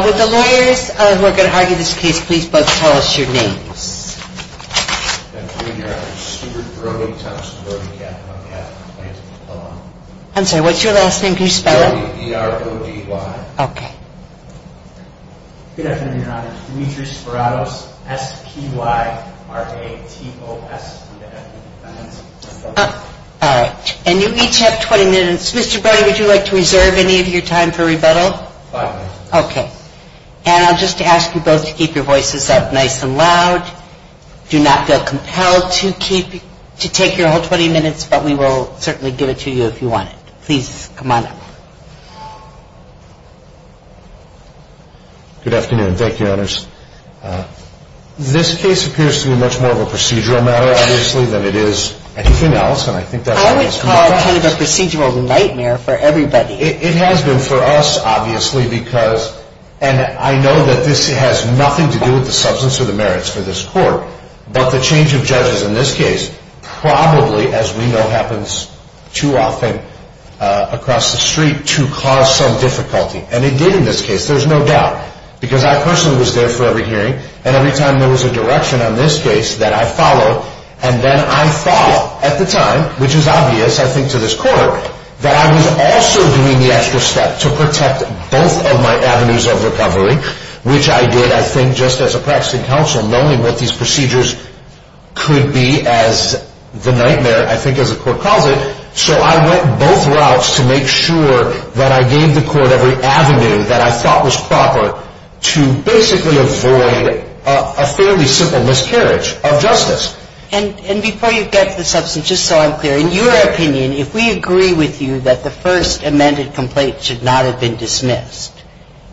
Would the lawyers who are going to argue this case please both tell us your names. And I'll just ask you both to keep your voices up nice and loud. Do not feel compelled to take your whole 20 minutes, but we will certainly give it to you if you want it. Please come on up. Good afternoon. Thank you, Your Honors. This case appears to be much more of a procedural matter, obviously, than it is anything else, and I think that's why it's been discussed. I would call it kind of a procedural nightmare for everybody. It has been for us, obviously, because, and I know that this has nothing to do with the substance of the merits for this court, but the change of judges in this case probably, as we know, happens too often across the street to cause some difficulty. And it did in this case, there's no doubt, because I personally was there for every hearing, and every time there was a direction on this case that I followed, and then I thought, at the time, which is obvious, I think, to this court, that I was also doing the extra step to protect both of my avenues of recovery, which I did, I think, just as a practicing counsel, knowing what these procedures could be as the nightmare, I think, as the court calls it. So I went both routes to make sure that I gave the court every avenue that I thought was proper to basically avoid a fairly simple miscarriage of justice. And before you get to the substance, just so I'm clear, in your opinion, if we agree with you that the first amended complaint should not have been dismissed,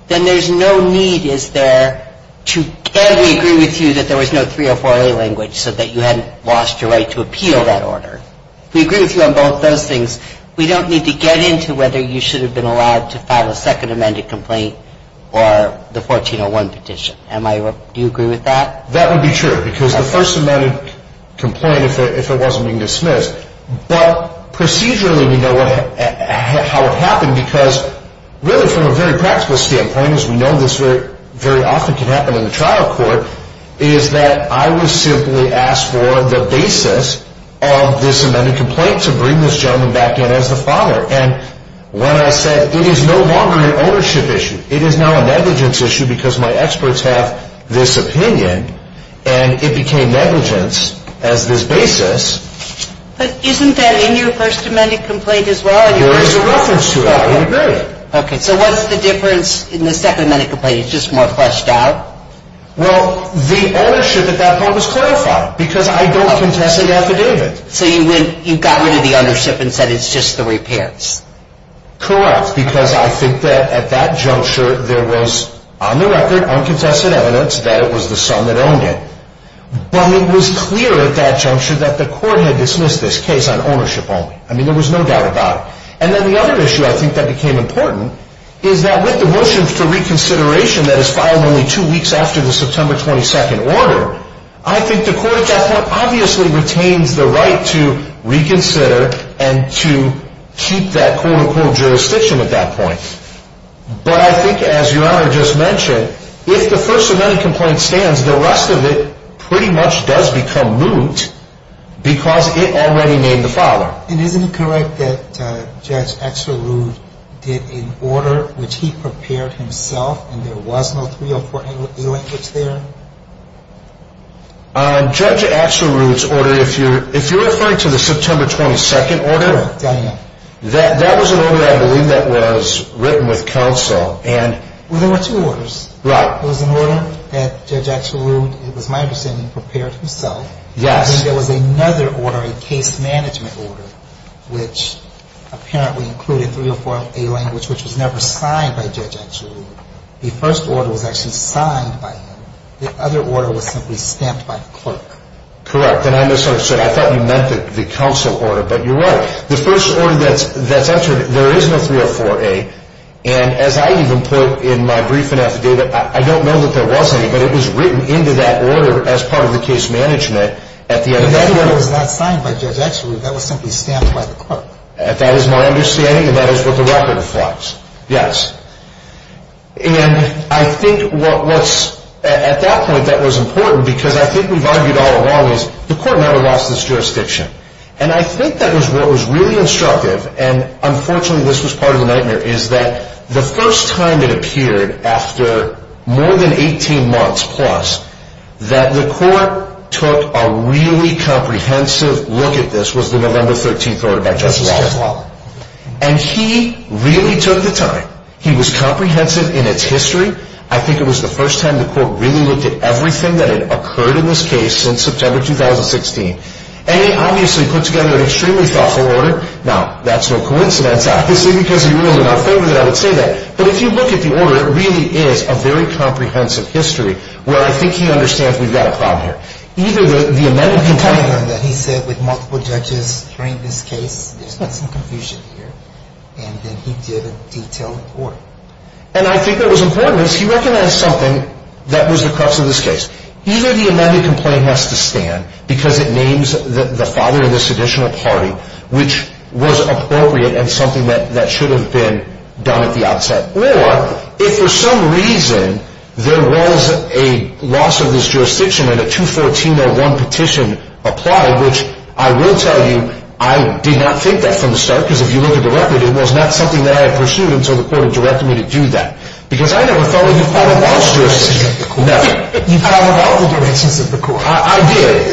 then there's no need, is there, to can we agree with you that there was no 304A language so that you hadn't lost your right to appeal that order? We agree with you on both those things. We don't need to get into whether you should have been allowed to file a second amended complaint or the 1401 petition. Do you agree with that? That would be true, because the first amended complaint, if it wasn't being dismissed, but procedurally we know how it happened, because really from a very practical standpoint, as we know this very often can happen in the trial court, is that I was simply asked for the basis of this amended complaint to bring this gentleman back in as the father. And when I said it is no longer an ownership issue, it is now a negligence issue, because my experts have this opinion, and it became negligence as this basis. But isn't that in your first amended complaint as well? There is a reference to it. I agree. Okay, so what's the difference in the second amended complaint? It's just more fleshed out? Well, the ownership at that point was clarified, because I don't contest the affidavit. So you got rid of the ownership and said it's just the repairs? Correct, because I think that at that juncture there was, on the record, uncontested evidence that it was the son that owned it. But it was clear at that juncture that the court had dismissed this case on ownership only. I mean, there was no doubt about it. And then the other issue I think that became important is that with the motion for reconsideration that is filed only two weeks after the September 22nd order, I think the court at that point obviously retains the right to reconsider and to keep that quote-unquote jurisdiction at that point. But I think, as Your Honor just mentioned, if the first amended complaint stands, the rest of it pretty much does become moot, because it already named the father. And isn't it correct that Judge Axelrude did an order which he prepared himself and there was no 304 language there? Judge Axelrude's order, if you're referring to the September 22nd order, that was an order I believe that was written with counsel and... Well, there were two orders. Right. There was an order that Judge Axelrude, it was my understanding, prepared himself. Yes. And then there was another order, a case management order, which apparently included 304A language which was never signed by Judge Axelrude. The first order was actually signed by him. The other order was simply stamped by the clerk. Correct. And I misunderstood. I thought you meant the counsel order, but you're right. The first order that's entered, there is no 304A, and as I even put in my briefing affidavit, I don't know that there was any, but it was written into that order as part of the case management at the end of that order. But that order was not signed by Judge Axelrude. That was simply stamped by the clerk. That is my understanding, and that is what the record reflects. Yes. And I think what was, at that point, that was important, because I think we've argued all along, is the court never lost its jurisdiction. And I think that was what was really instructive, and unfortunately this was part of the nightmare, is that the first time it appeared, after more than 18 months plus, that the court took a really comprehensive look at this, was the November 13th order by Justice Kavanaugh. Justice Kavanaugh. And he really took the time. He was comprehensive in its history. I think it was the first time the court really looked at everything that had occurred in this case since September 2016. And he obviously put together an extremely thoughtful order. Now, that's no coincidence, obviously, because he ruled in our favor that I would say that. But if you look at the order, it really is a very comprehensive history, where I think he understands we've got a problem here. Either the amended... He said with multiple judges during this case, there's been some confusion here, and then he did a detailed order. And I think that was important, because he recognized something that was the crux of this case. Either the amended complaint has to stand, because it names the father of this additional party, which was appropriate and something that should have been done at the outset. Or, if for some reason there was a loss of this jurisdiction and a 214-01 petition applied, which I will tell you, I did not think that from the start, because if you look at the record, it was not something that I had pursued until the court had directed me to do that. Because I never thought we could file a loss jurisdiction. Never. You filed without the directions of the court. I did.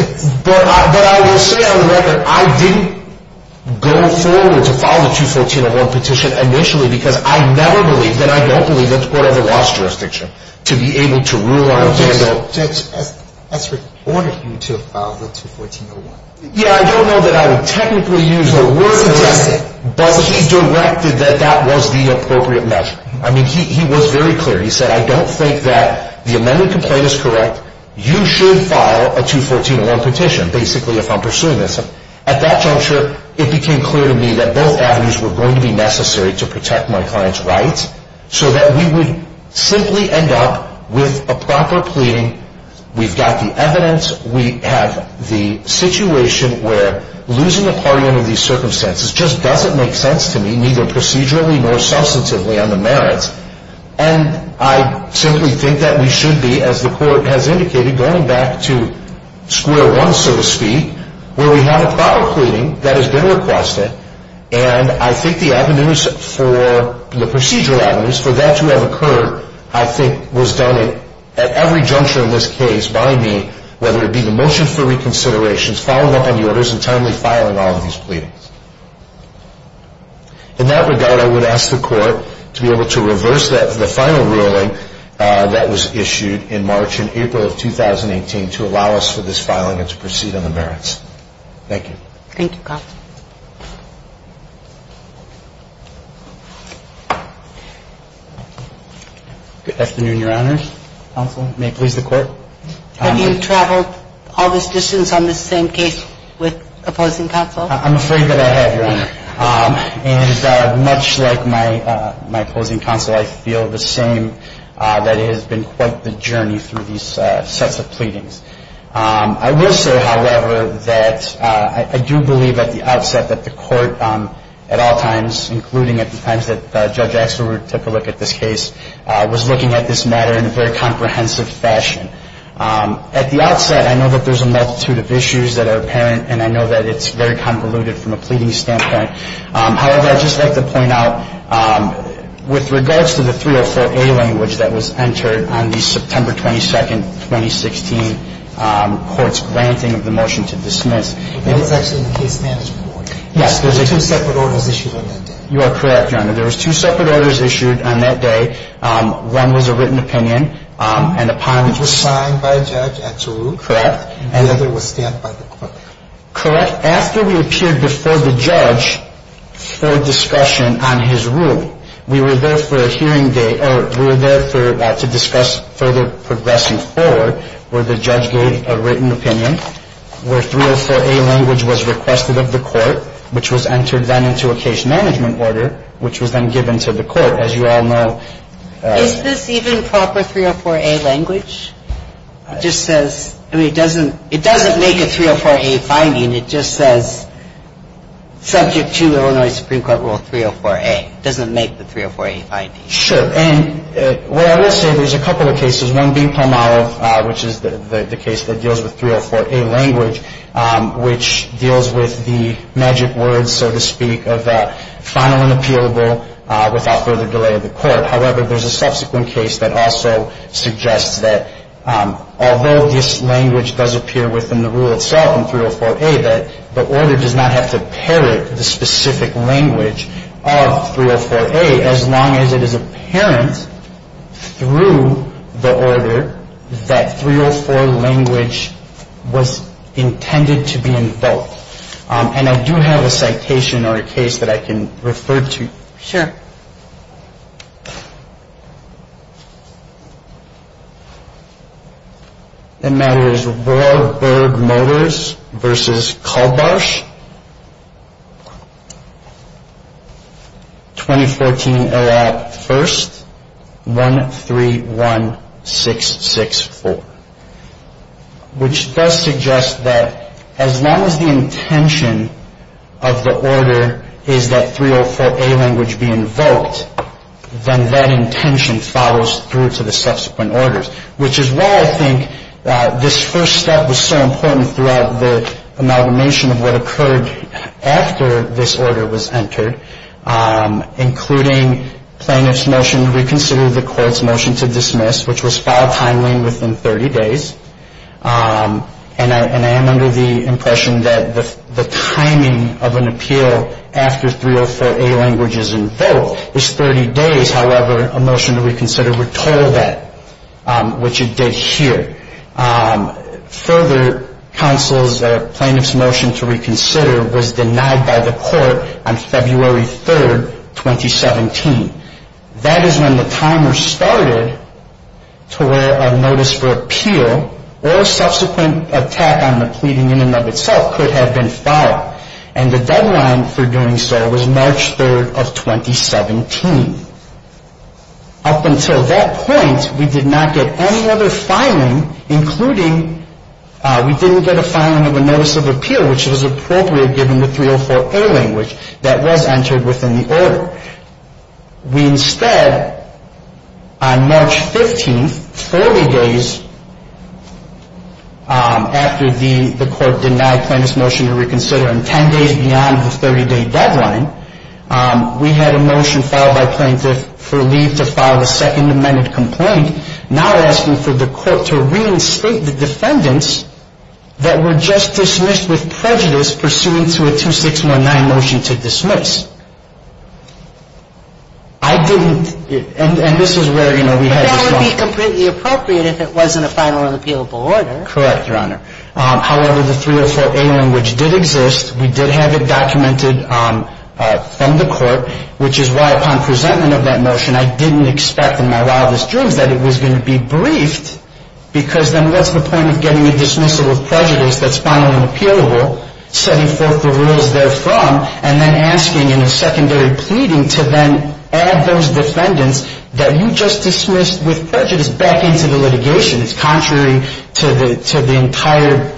But I will say on the record, I didn't go forward to file the 214-01 petition initially, because I never believed that I don't believe that the court had a loss jurisdiction to be able to rule on a candle. Judge, Esri ordered you to file the 214-01. Yeah, I don't know that I would technically use the word... He suggested. But he directed that that was the appropriate measure. I mean, he was very clear. He said, I don't think that the amended complaint is correct. You should file a 214-01 petition, basically, if I'm pursuing this. At that juncture, it became clear to me that both avenues were going to be necessary to protect my client's rights, so that we would simply end up with a proper pleading. We've got the evidence. We have the situation where losing a party under these circumstances just doesn't make sense to me, neither procedurally nor substantively, on the merits. And I simply think that we should be, as the court has indicated, going back to square one, so to speak, where we have a proper pleading that has been requested, and I think the avenues for the procedural avenues for that to have occurred, I think, was done at every juncture in this case by me, whether it be the motion for reconsiderations, following up on the orders, and timely filing all of these pleadings. In that regard, I would ask the court to be able to reverse the final ruling that was issued in March and April of 2018 to allow us for this filing and to proceed on the merits. Thank you. Thank you, Kyle. Good afternoon, Your Honor. Counsel, may it please the court? Have you traveled all this distance on this same case with opposing counsel? I'm afraid that I have, Your Honor. And much like my opposing counsel, I feel the same. That has been quite the journey through these sets of pleadings. I will say, however, that I do believe at the outset that the court at all times, including at the times that Judge Axelrod took a look at this case, was looking at this matter in a very comprehensive fashion. At the outset, I know that there's a multitude of issues that are apparent, and I know that it's very convoluted from a pleading standpoint. However, I'd just like to point out, with regards to the 304A language that was entered on the September 22nd, 2016 court's granting of the motion to dismiss. And it's actually in the case standards report. Yes. There were two separate orders issued on that day. You are correct, Your Honor. There were two separate orders issued on that day. One was a written opinion. It was signed by a judge, Axelrod. Correct. And the other was stamped by the court. Correct. After we appeared before the judge for discussion on his rule, we were there for a hearing day to discuss further progressing forward, where the judge gave a written opinion, where 304A language was requested of the court, which was entered then into a case management order, which was then given to the court, as you all know. Is this even proper 304A language? It just says, I mean, it doesn't make a 304A finding. It just says, subject to Illinois Supreme Court Rule 304A. It doesn't make the 304A finding. Sure. And what I will say, there's a couple of cases. One being Palmolive, which is the case that deals with 304A language, which deals with the magic words, so to speak, of that final and appealable without further delay of the court. However, there's a subsequent case that also suggests that although this language does appear within the rule itself on 304A, that the order does not have to parrot the specific language of 304A, as long as it is apparent through the order that 304 language was intended to be invoked. And I do have a citation or a case that I can refer to. Sure. The matter is Warburg Motors v. Culbarsh, 2014 L.A. 1st, 131664, which does suggest that as long as the intention of the order is that 304A language be invoked, then that intention follows through to the subsequent orders, which is why I think this first step was so important throughout the amalgamation of what occurred after this order was entered, including plaintiff's motion to reconsider the court's motion to dismiss, which was filed timely and within 30 days. And I am under the impression that the timing of an appeal after 304A language is invoked is 30 days. However, a motion to reconsider would total that, which it did here. Further, counsel's plaintiff's motion to reconsider was denied by the court on February 3rd, 2017. That is when the timer started to where a notice for appeal or a subsequent attack on the pleading in and of itself could have been filed. And the deadline for doing so was March 3rd of 2017. Up until that point, we did not get any other filing, including we didn't get a filing of a notice of appeal, which was appropriate given the 304A language that was entered within the order. We instead, on March 15th, 40 days after the court denied plaintiff's motion to reconsider, and 10 days beyond the 30-day deadline, we had a motion filed by plaintiff for leave to file a second amended complaint, now asking for the court to reinstate the defendants that were just dismissed with prejudice, pursuant to a 2619 motion to dismiss. I didn't, and this is where, you know, we had this moment. But that would be completely appropriate if it wasn't a final and appealable order. Correct, Your Honor. However, the 304A language did exist. We did have it documented from the court, which is why, upon presentment of that motion, I didn't expect in my wildest dreams that it was going to be briefed, because then what's the point of getting a dismissal of prejudice that's final and appealable, setting forth the rules therefrom, and then asking in a secondary pleading to then add those defendants that you just dismissed with prejudice back into the litigation. It's contrary to the entire,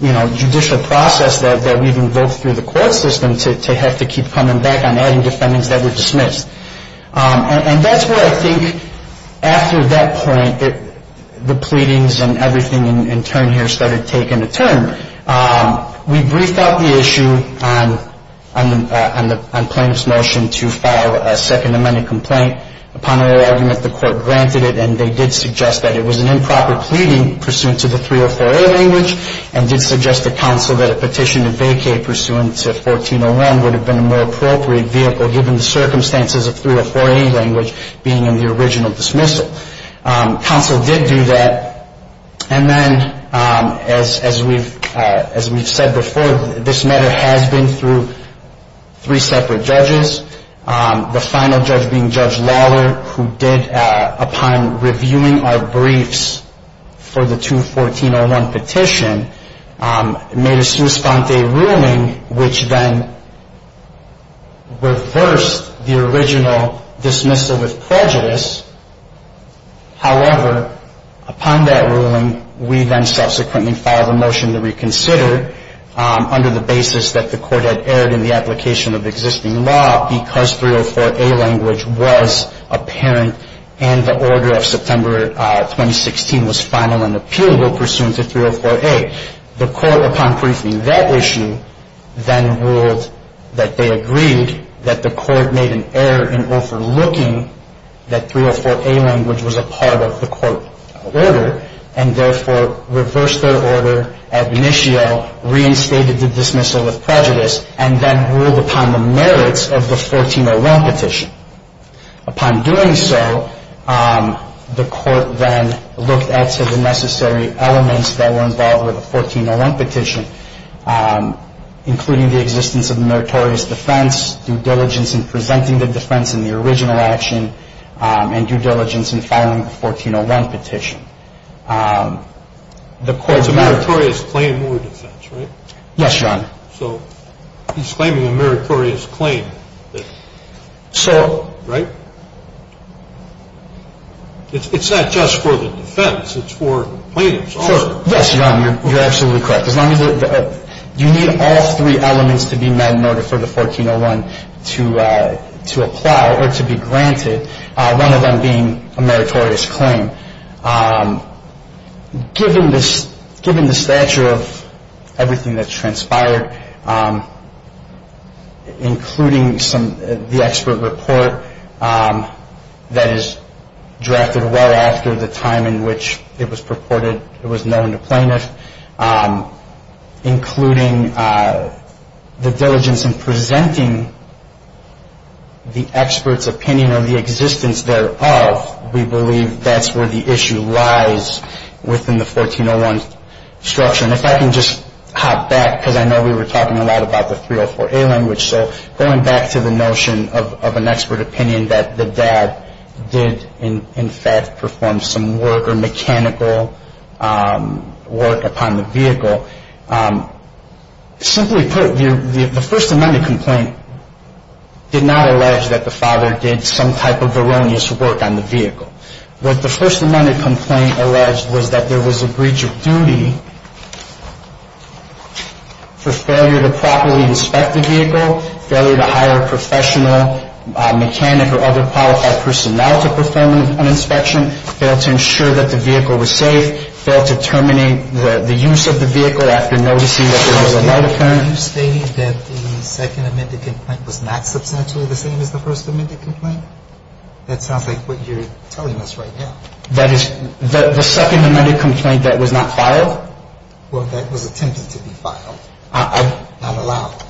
you know, judicial process that we've invoked through the court system to have to keep coming back on adding defendants that were dismissed. And that's where I think, after that point, the pleadings and everything in turn here started taking a turn. We briefed out the issue on plaintiff's motion to file a second amended complaint. Upon our argument, the court granted it. And they did suggest that it was an improper pleading pursuant to the 304A language and did suggest to counsel that a petition to vacate pursuant to 1401 would have been a more appropriate vehicle, given the circumstances of 304A language being in the original dismissal. Counsel did do that. And then, as we've said before, this matter has been through three separate judges, the final judge being Judge Lawler, who did, upon reviewing our briefs for the 214-01 petition, made a sua sponte ruling which then reversed the original dismissal with prejudice. However, upon that ruling, we then subsequently filed a motion to reconsider, under the basis that the court had erred in the application of existing law because 304A language was apparent and the order of September 2016 was final and appealable pursuant to 304A. The court, upon briefing that issue, then ruled that they agreed that the court made an error in overlooking that 304A language was a part of the court order and therefore reversed their order ad initio, reinstated the dismissal with prejudice, and then ruled upon the merits of the 1401 petition. Upon doing so, the court then looked at the necessary elements that were involved with the 1401 petition, including the existence of the meritorious defense, due diligence in presenting the defense in the original action, and due diligence in filing the 1401 petition. It's a meritorious claim or defense, right? Yes, Your Honor. So he's claiming a meritorious claim, right? It's not just for the defense, it's for plaintiffs also. Yes, Your Honor, you're absolutely correct. You need all three elements to be met in order for the 1401 to apply or to be granted, one of them being a meritorious claim. Given the stature of everything that transpired, including the expert report that is drafted well after the time in which it was purported it was known to plaintiff, including the diligence in presenting the expert's opinion of the existence thereof, we believe that's where the issue lies within the 1401 structure. And if I can just hop back, because I know we were talking a lot about the 304A language, so going back to the notion of an expert opinion that the dad did, in fact, perform some work or mechanical work upon the vehicle, simply put, the First Amendment complaint did not allege that the father did some type of erroneous work on the vehicle. What the First Amendment complaint alleged was that there was a breach of duty for failure to properly inspect the vehicle, failure to hire a professional mechanic or other qualified personnel to perform an inspection, fail to ensure that the vehicle was safe, fail to terminate the use of the vehicle after noticing that there was a light apparent. Are you stating that the Second Amendment complaint was not substantially the same as the First Amendment complaint? That sounds like what you're telling us right now. That is the Second Amendment complaint that was not filed? Well, that was attempted to be filed. Not allowed.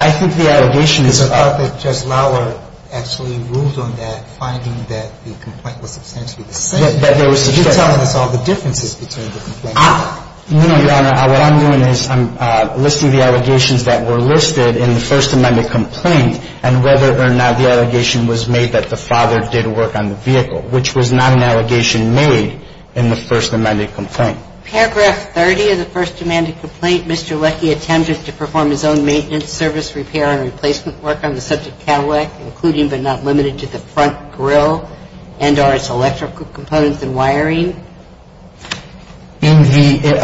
I think the allegation is. Because I thought that Judge Lauer actually ruled on that, finding that the complaint was substantially the same. That there was. So you're telling us all the differences between the complaints. No, Your Honor. What I'm doing is I'm listing the allegations that were listed in the First Amendment complaint, and whether or not the allegation was made that the father did work on the vehicle, which was not an allegation made in the First Amendment complaint. Paragraph 30 of the First Amendment complaint, Mr. Leckie attempted to perform his own maintenance, service, repair, and replacement work on the subject Cadillac, including but not limited to the front grill and or its electrical components and wiring. In the,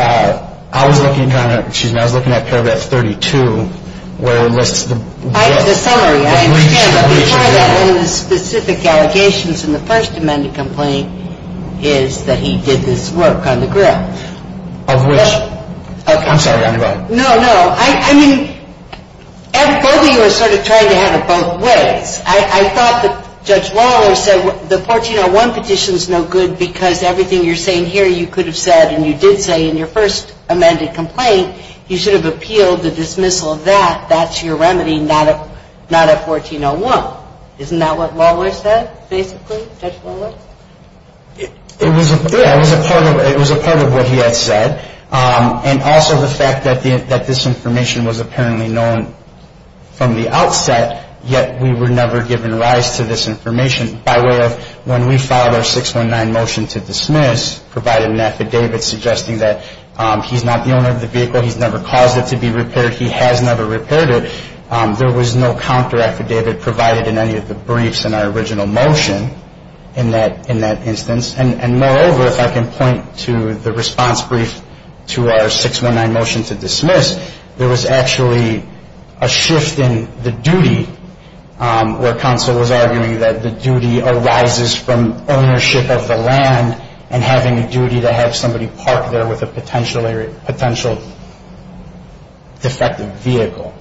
I was looking, Your Honor, excuse me, I was looking at paragraph 32 where it lists the. The summary, I understand. But before that, one of the specific allegations in the First Amendment complaint is that he did this work on the grill. Of which? I'm sorry. No, no. I mean, both of you are sort of trying to have it both ways. I thought that Judge Lauer said the 1401 petition is no good because everything you're saying here you could have said, and you did say in your First Amendment complaint, you should have appealed the dismissal of that. That's your remedy, not a 1401. Isn't that what Lauer said, basically, Judge Lauer? It was a part of what he had said. And also the fact that this information was apparently known from the outset, yet we were never given rise to this information by way of when we filed our 619 motion to dismiss, provided an affidavit suggesting that he's not the owner of the vehicle. He's never caused it to be repaired. He has never repaired it. There was no counter affidavit provided in any of the briefs in our original motion in that instance. And moreover, if I can point to the response brief to our 619 motion to dismiss, there was actually a shift in the duty where counsel was arguing that the duty arises from ownership of the land and having a duty to have somebody park there with a potential defective vehicle.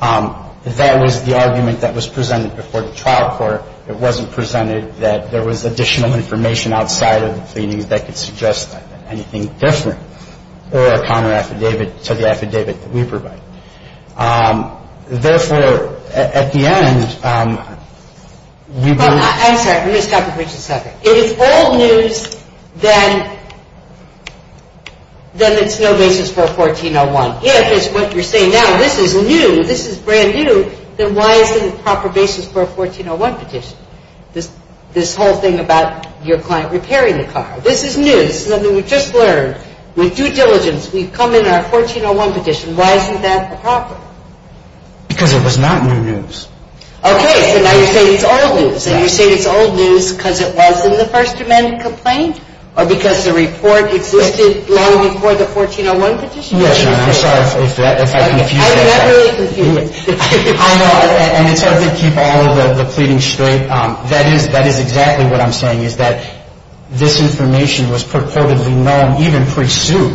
That was the argument that was presented before the trial court. It wasn't presented that there was additional information outside of the pleadings that could suggest anything different or a counter affidavit to the affidavit that we provide. Therefore, at the end, we do – I'm sorry. Let me stop you for just a second. If it's old news, then it's no basis for a 1401. If it's what you're saying now, this is new, this is brand new, then why isn't it a proper basis for a 1401 petition? This whole thing about your client repairing the car. This is news. This is something we've just learned. With due diligence, we've come in our 1401 petition. Why isn't that proper? Because it was not new news. Okay. So now you're saying it's old news. And you're saying it's old news because it was in the First Amendment complaint or because the report existed long before the 1401 petition? Yes, ma'am. I'm sorry if I confused you. I'm not really confused. I know, and it's hard to keep all of the pleadings straight. That is exactly what I'm saying, is that this information was purportedly known even pre-suit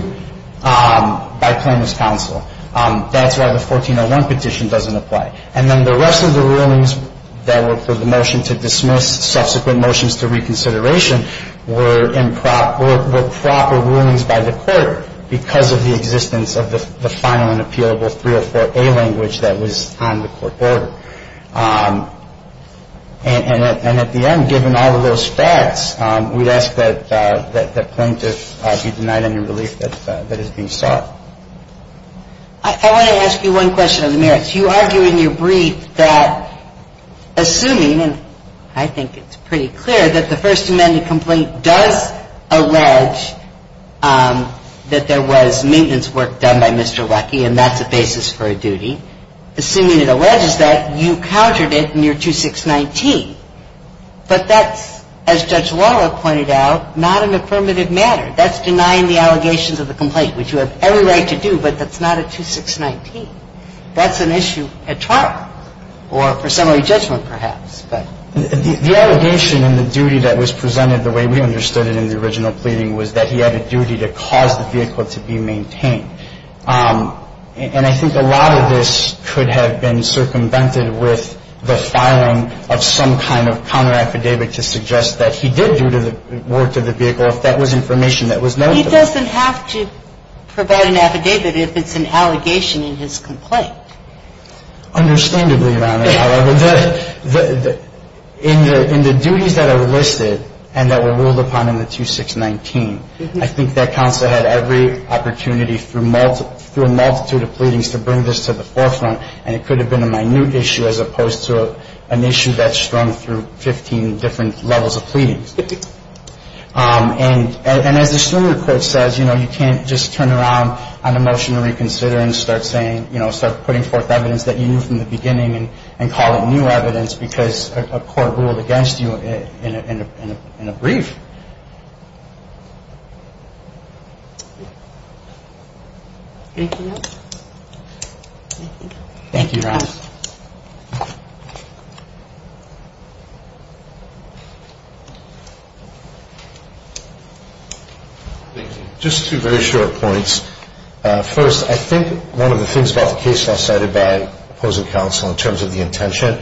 by plaintiff's counsel. That's why the 1401 petition doesn't apply. And then the rest of the rulings that were for the motion to dismiss, subsequent motions to reconsideration, were proper rulings by the court because of the existence of the final and appealable 304A language that was on the court order. And at the end, given all of those facts, we'd ask that plaintiff be denied any relief that is being sought. I want to ask you one question of the merits. You argue in your brief that, assuming, and I think it's pretty clear that the First Amendment complaint does allege that there was maintenance work done by Mr. Leckie, and that's a basis for a duty, assuming it alleges that, you countered it in your 2619. But that's, as Judge Lawler pointed out, not an affirmative matter. That's denying the allegations of the complaint, which you have every right to do, but that's not a 2619. That's an issue at trial or for summary judgment, perhaps. But the allegation and the duty that was presented the way we understood it in the original pleading was that he had a duty to cause the vehicle to be maintained. And I think a lot of this could have been circumvented with the filing of some kind of counteraffidavit to suggest that he did do the work to the vehicle if that was information that was noted. He doesn't have to provide an affidavit if it's an allegation in his complaint. Understandably, Your Honor, however, in the duties that are listed and that were ruled upon in the 2619, I think that counsel had every opportunity through a multitude of pleadings to bring this to the forefront, and it could have been a minute issue as opposed to an issue that strung through 15 different levels of pleadings. And as the Strummer Court says, you can't just turn around on a motion to reconsider and start putting forth evidence that you knew from the beginning and call it new evidence because a court ruled against you in a brief. Thank you, Your Honor. Thank you. Just two very short points. First, I think one of the things about the case law cited by opposing counsel in terms of the intention,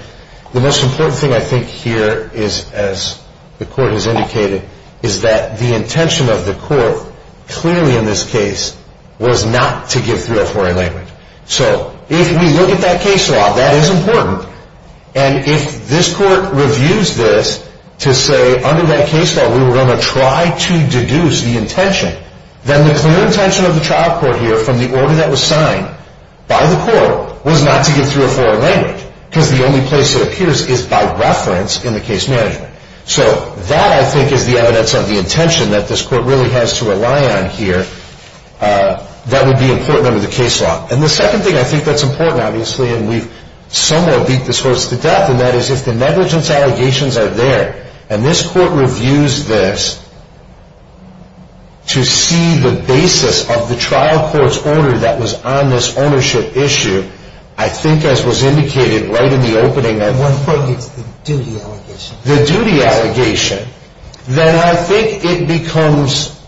the most important thing I think here is, as the Court has indicated, is that the intention of the Court clearly in this case was not to give three or four a language. So if we look at that case law, that is important. And if this Court reviews this to say, under that case law, we were going to try to deduce the intention, then the clear intention of the trial court here from the order that was signed by the Court was not to give three or four a language because the only place it appears is by reference in the case management. So that, I think, is the evidence of the intention that this Court really has to rely on here that would be important under the case law. And the second thing I think that's important, obviously, and we've somewhat beat this horse to death, and that is if the negligence allegations are there, and this Court reviews this to see the basis of the trial court's order that was on this ownership issue, I think as was indicated right in the opening. One point gets the duty allegation. The duty allegation. Then I think it becomes,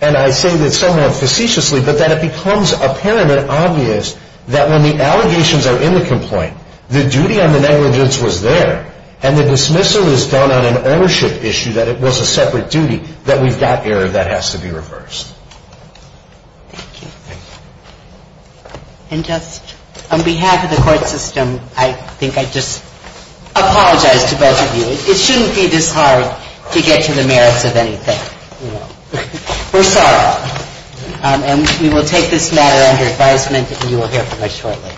and I say this somewhat facetiously, but that it becomes apparent and obvious that when the allegations are in the complaint, the duty on the negligence was there, and the dismissal is done on an ownership issue that it was a separate duty, that we've got error that has to be reversed. Thank you. And just on behalf of the Court system, I think I just apologize to both of you. It shouldn't be this hard to get to the merits of anything. We're sorry. And we will take this matter under advisement, and you will hear from us shortly.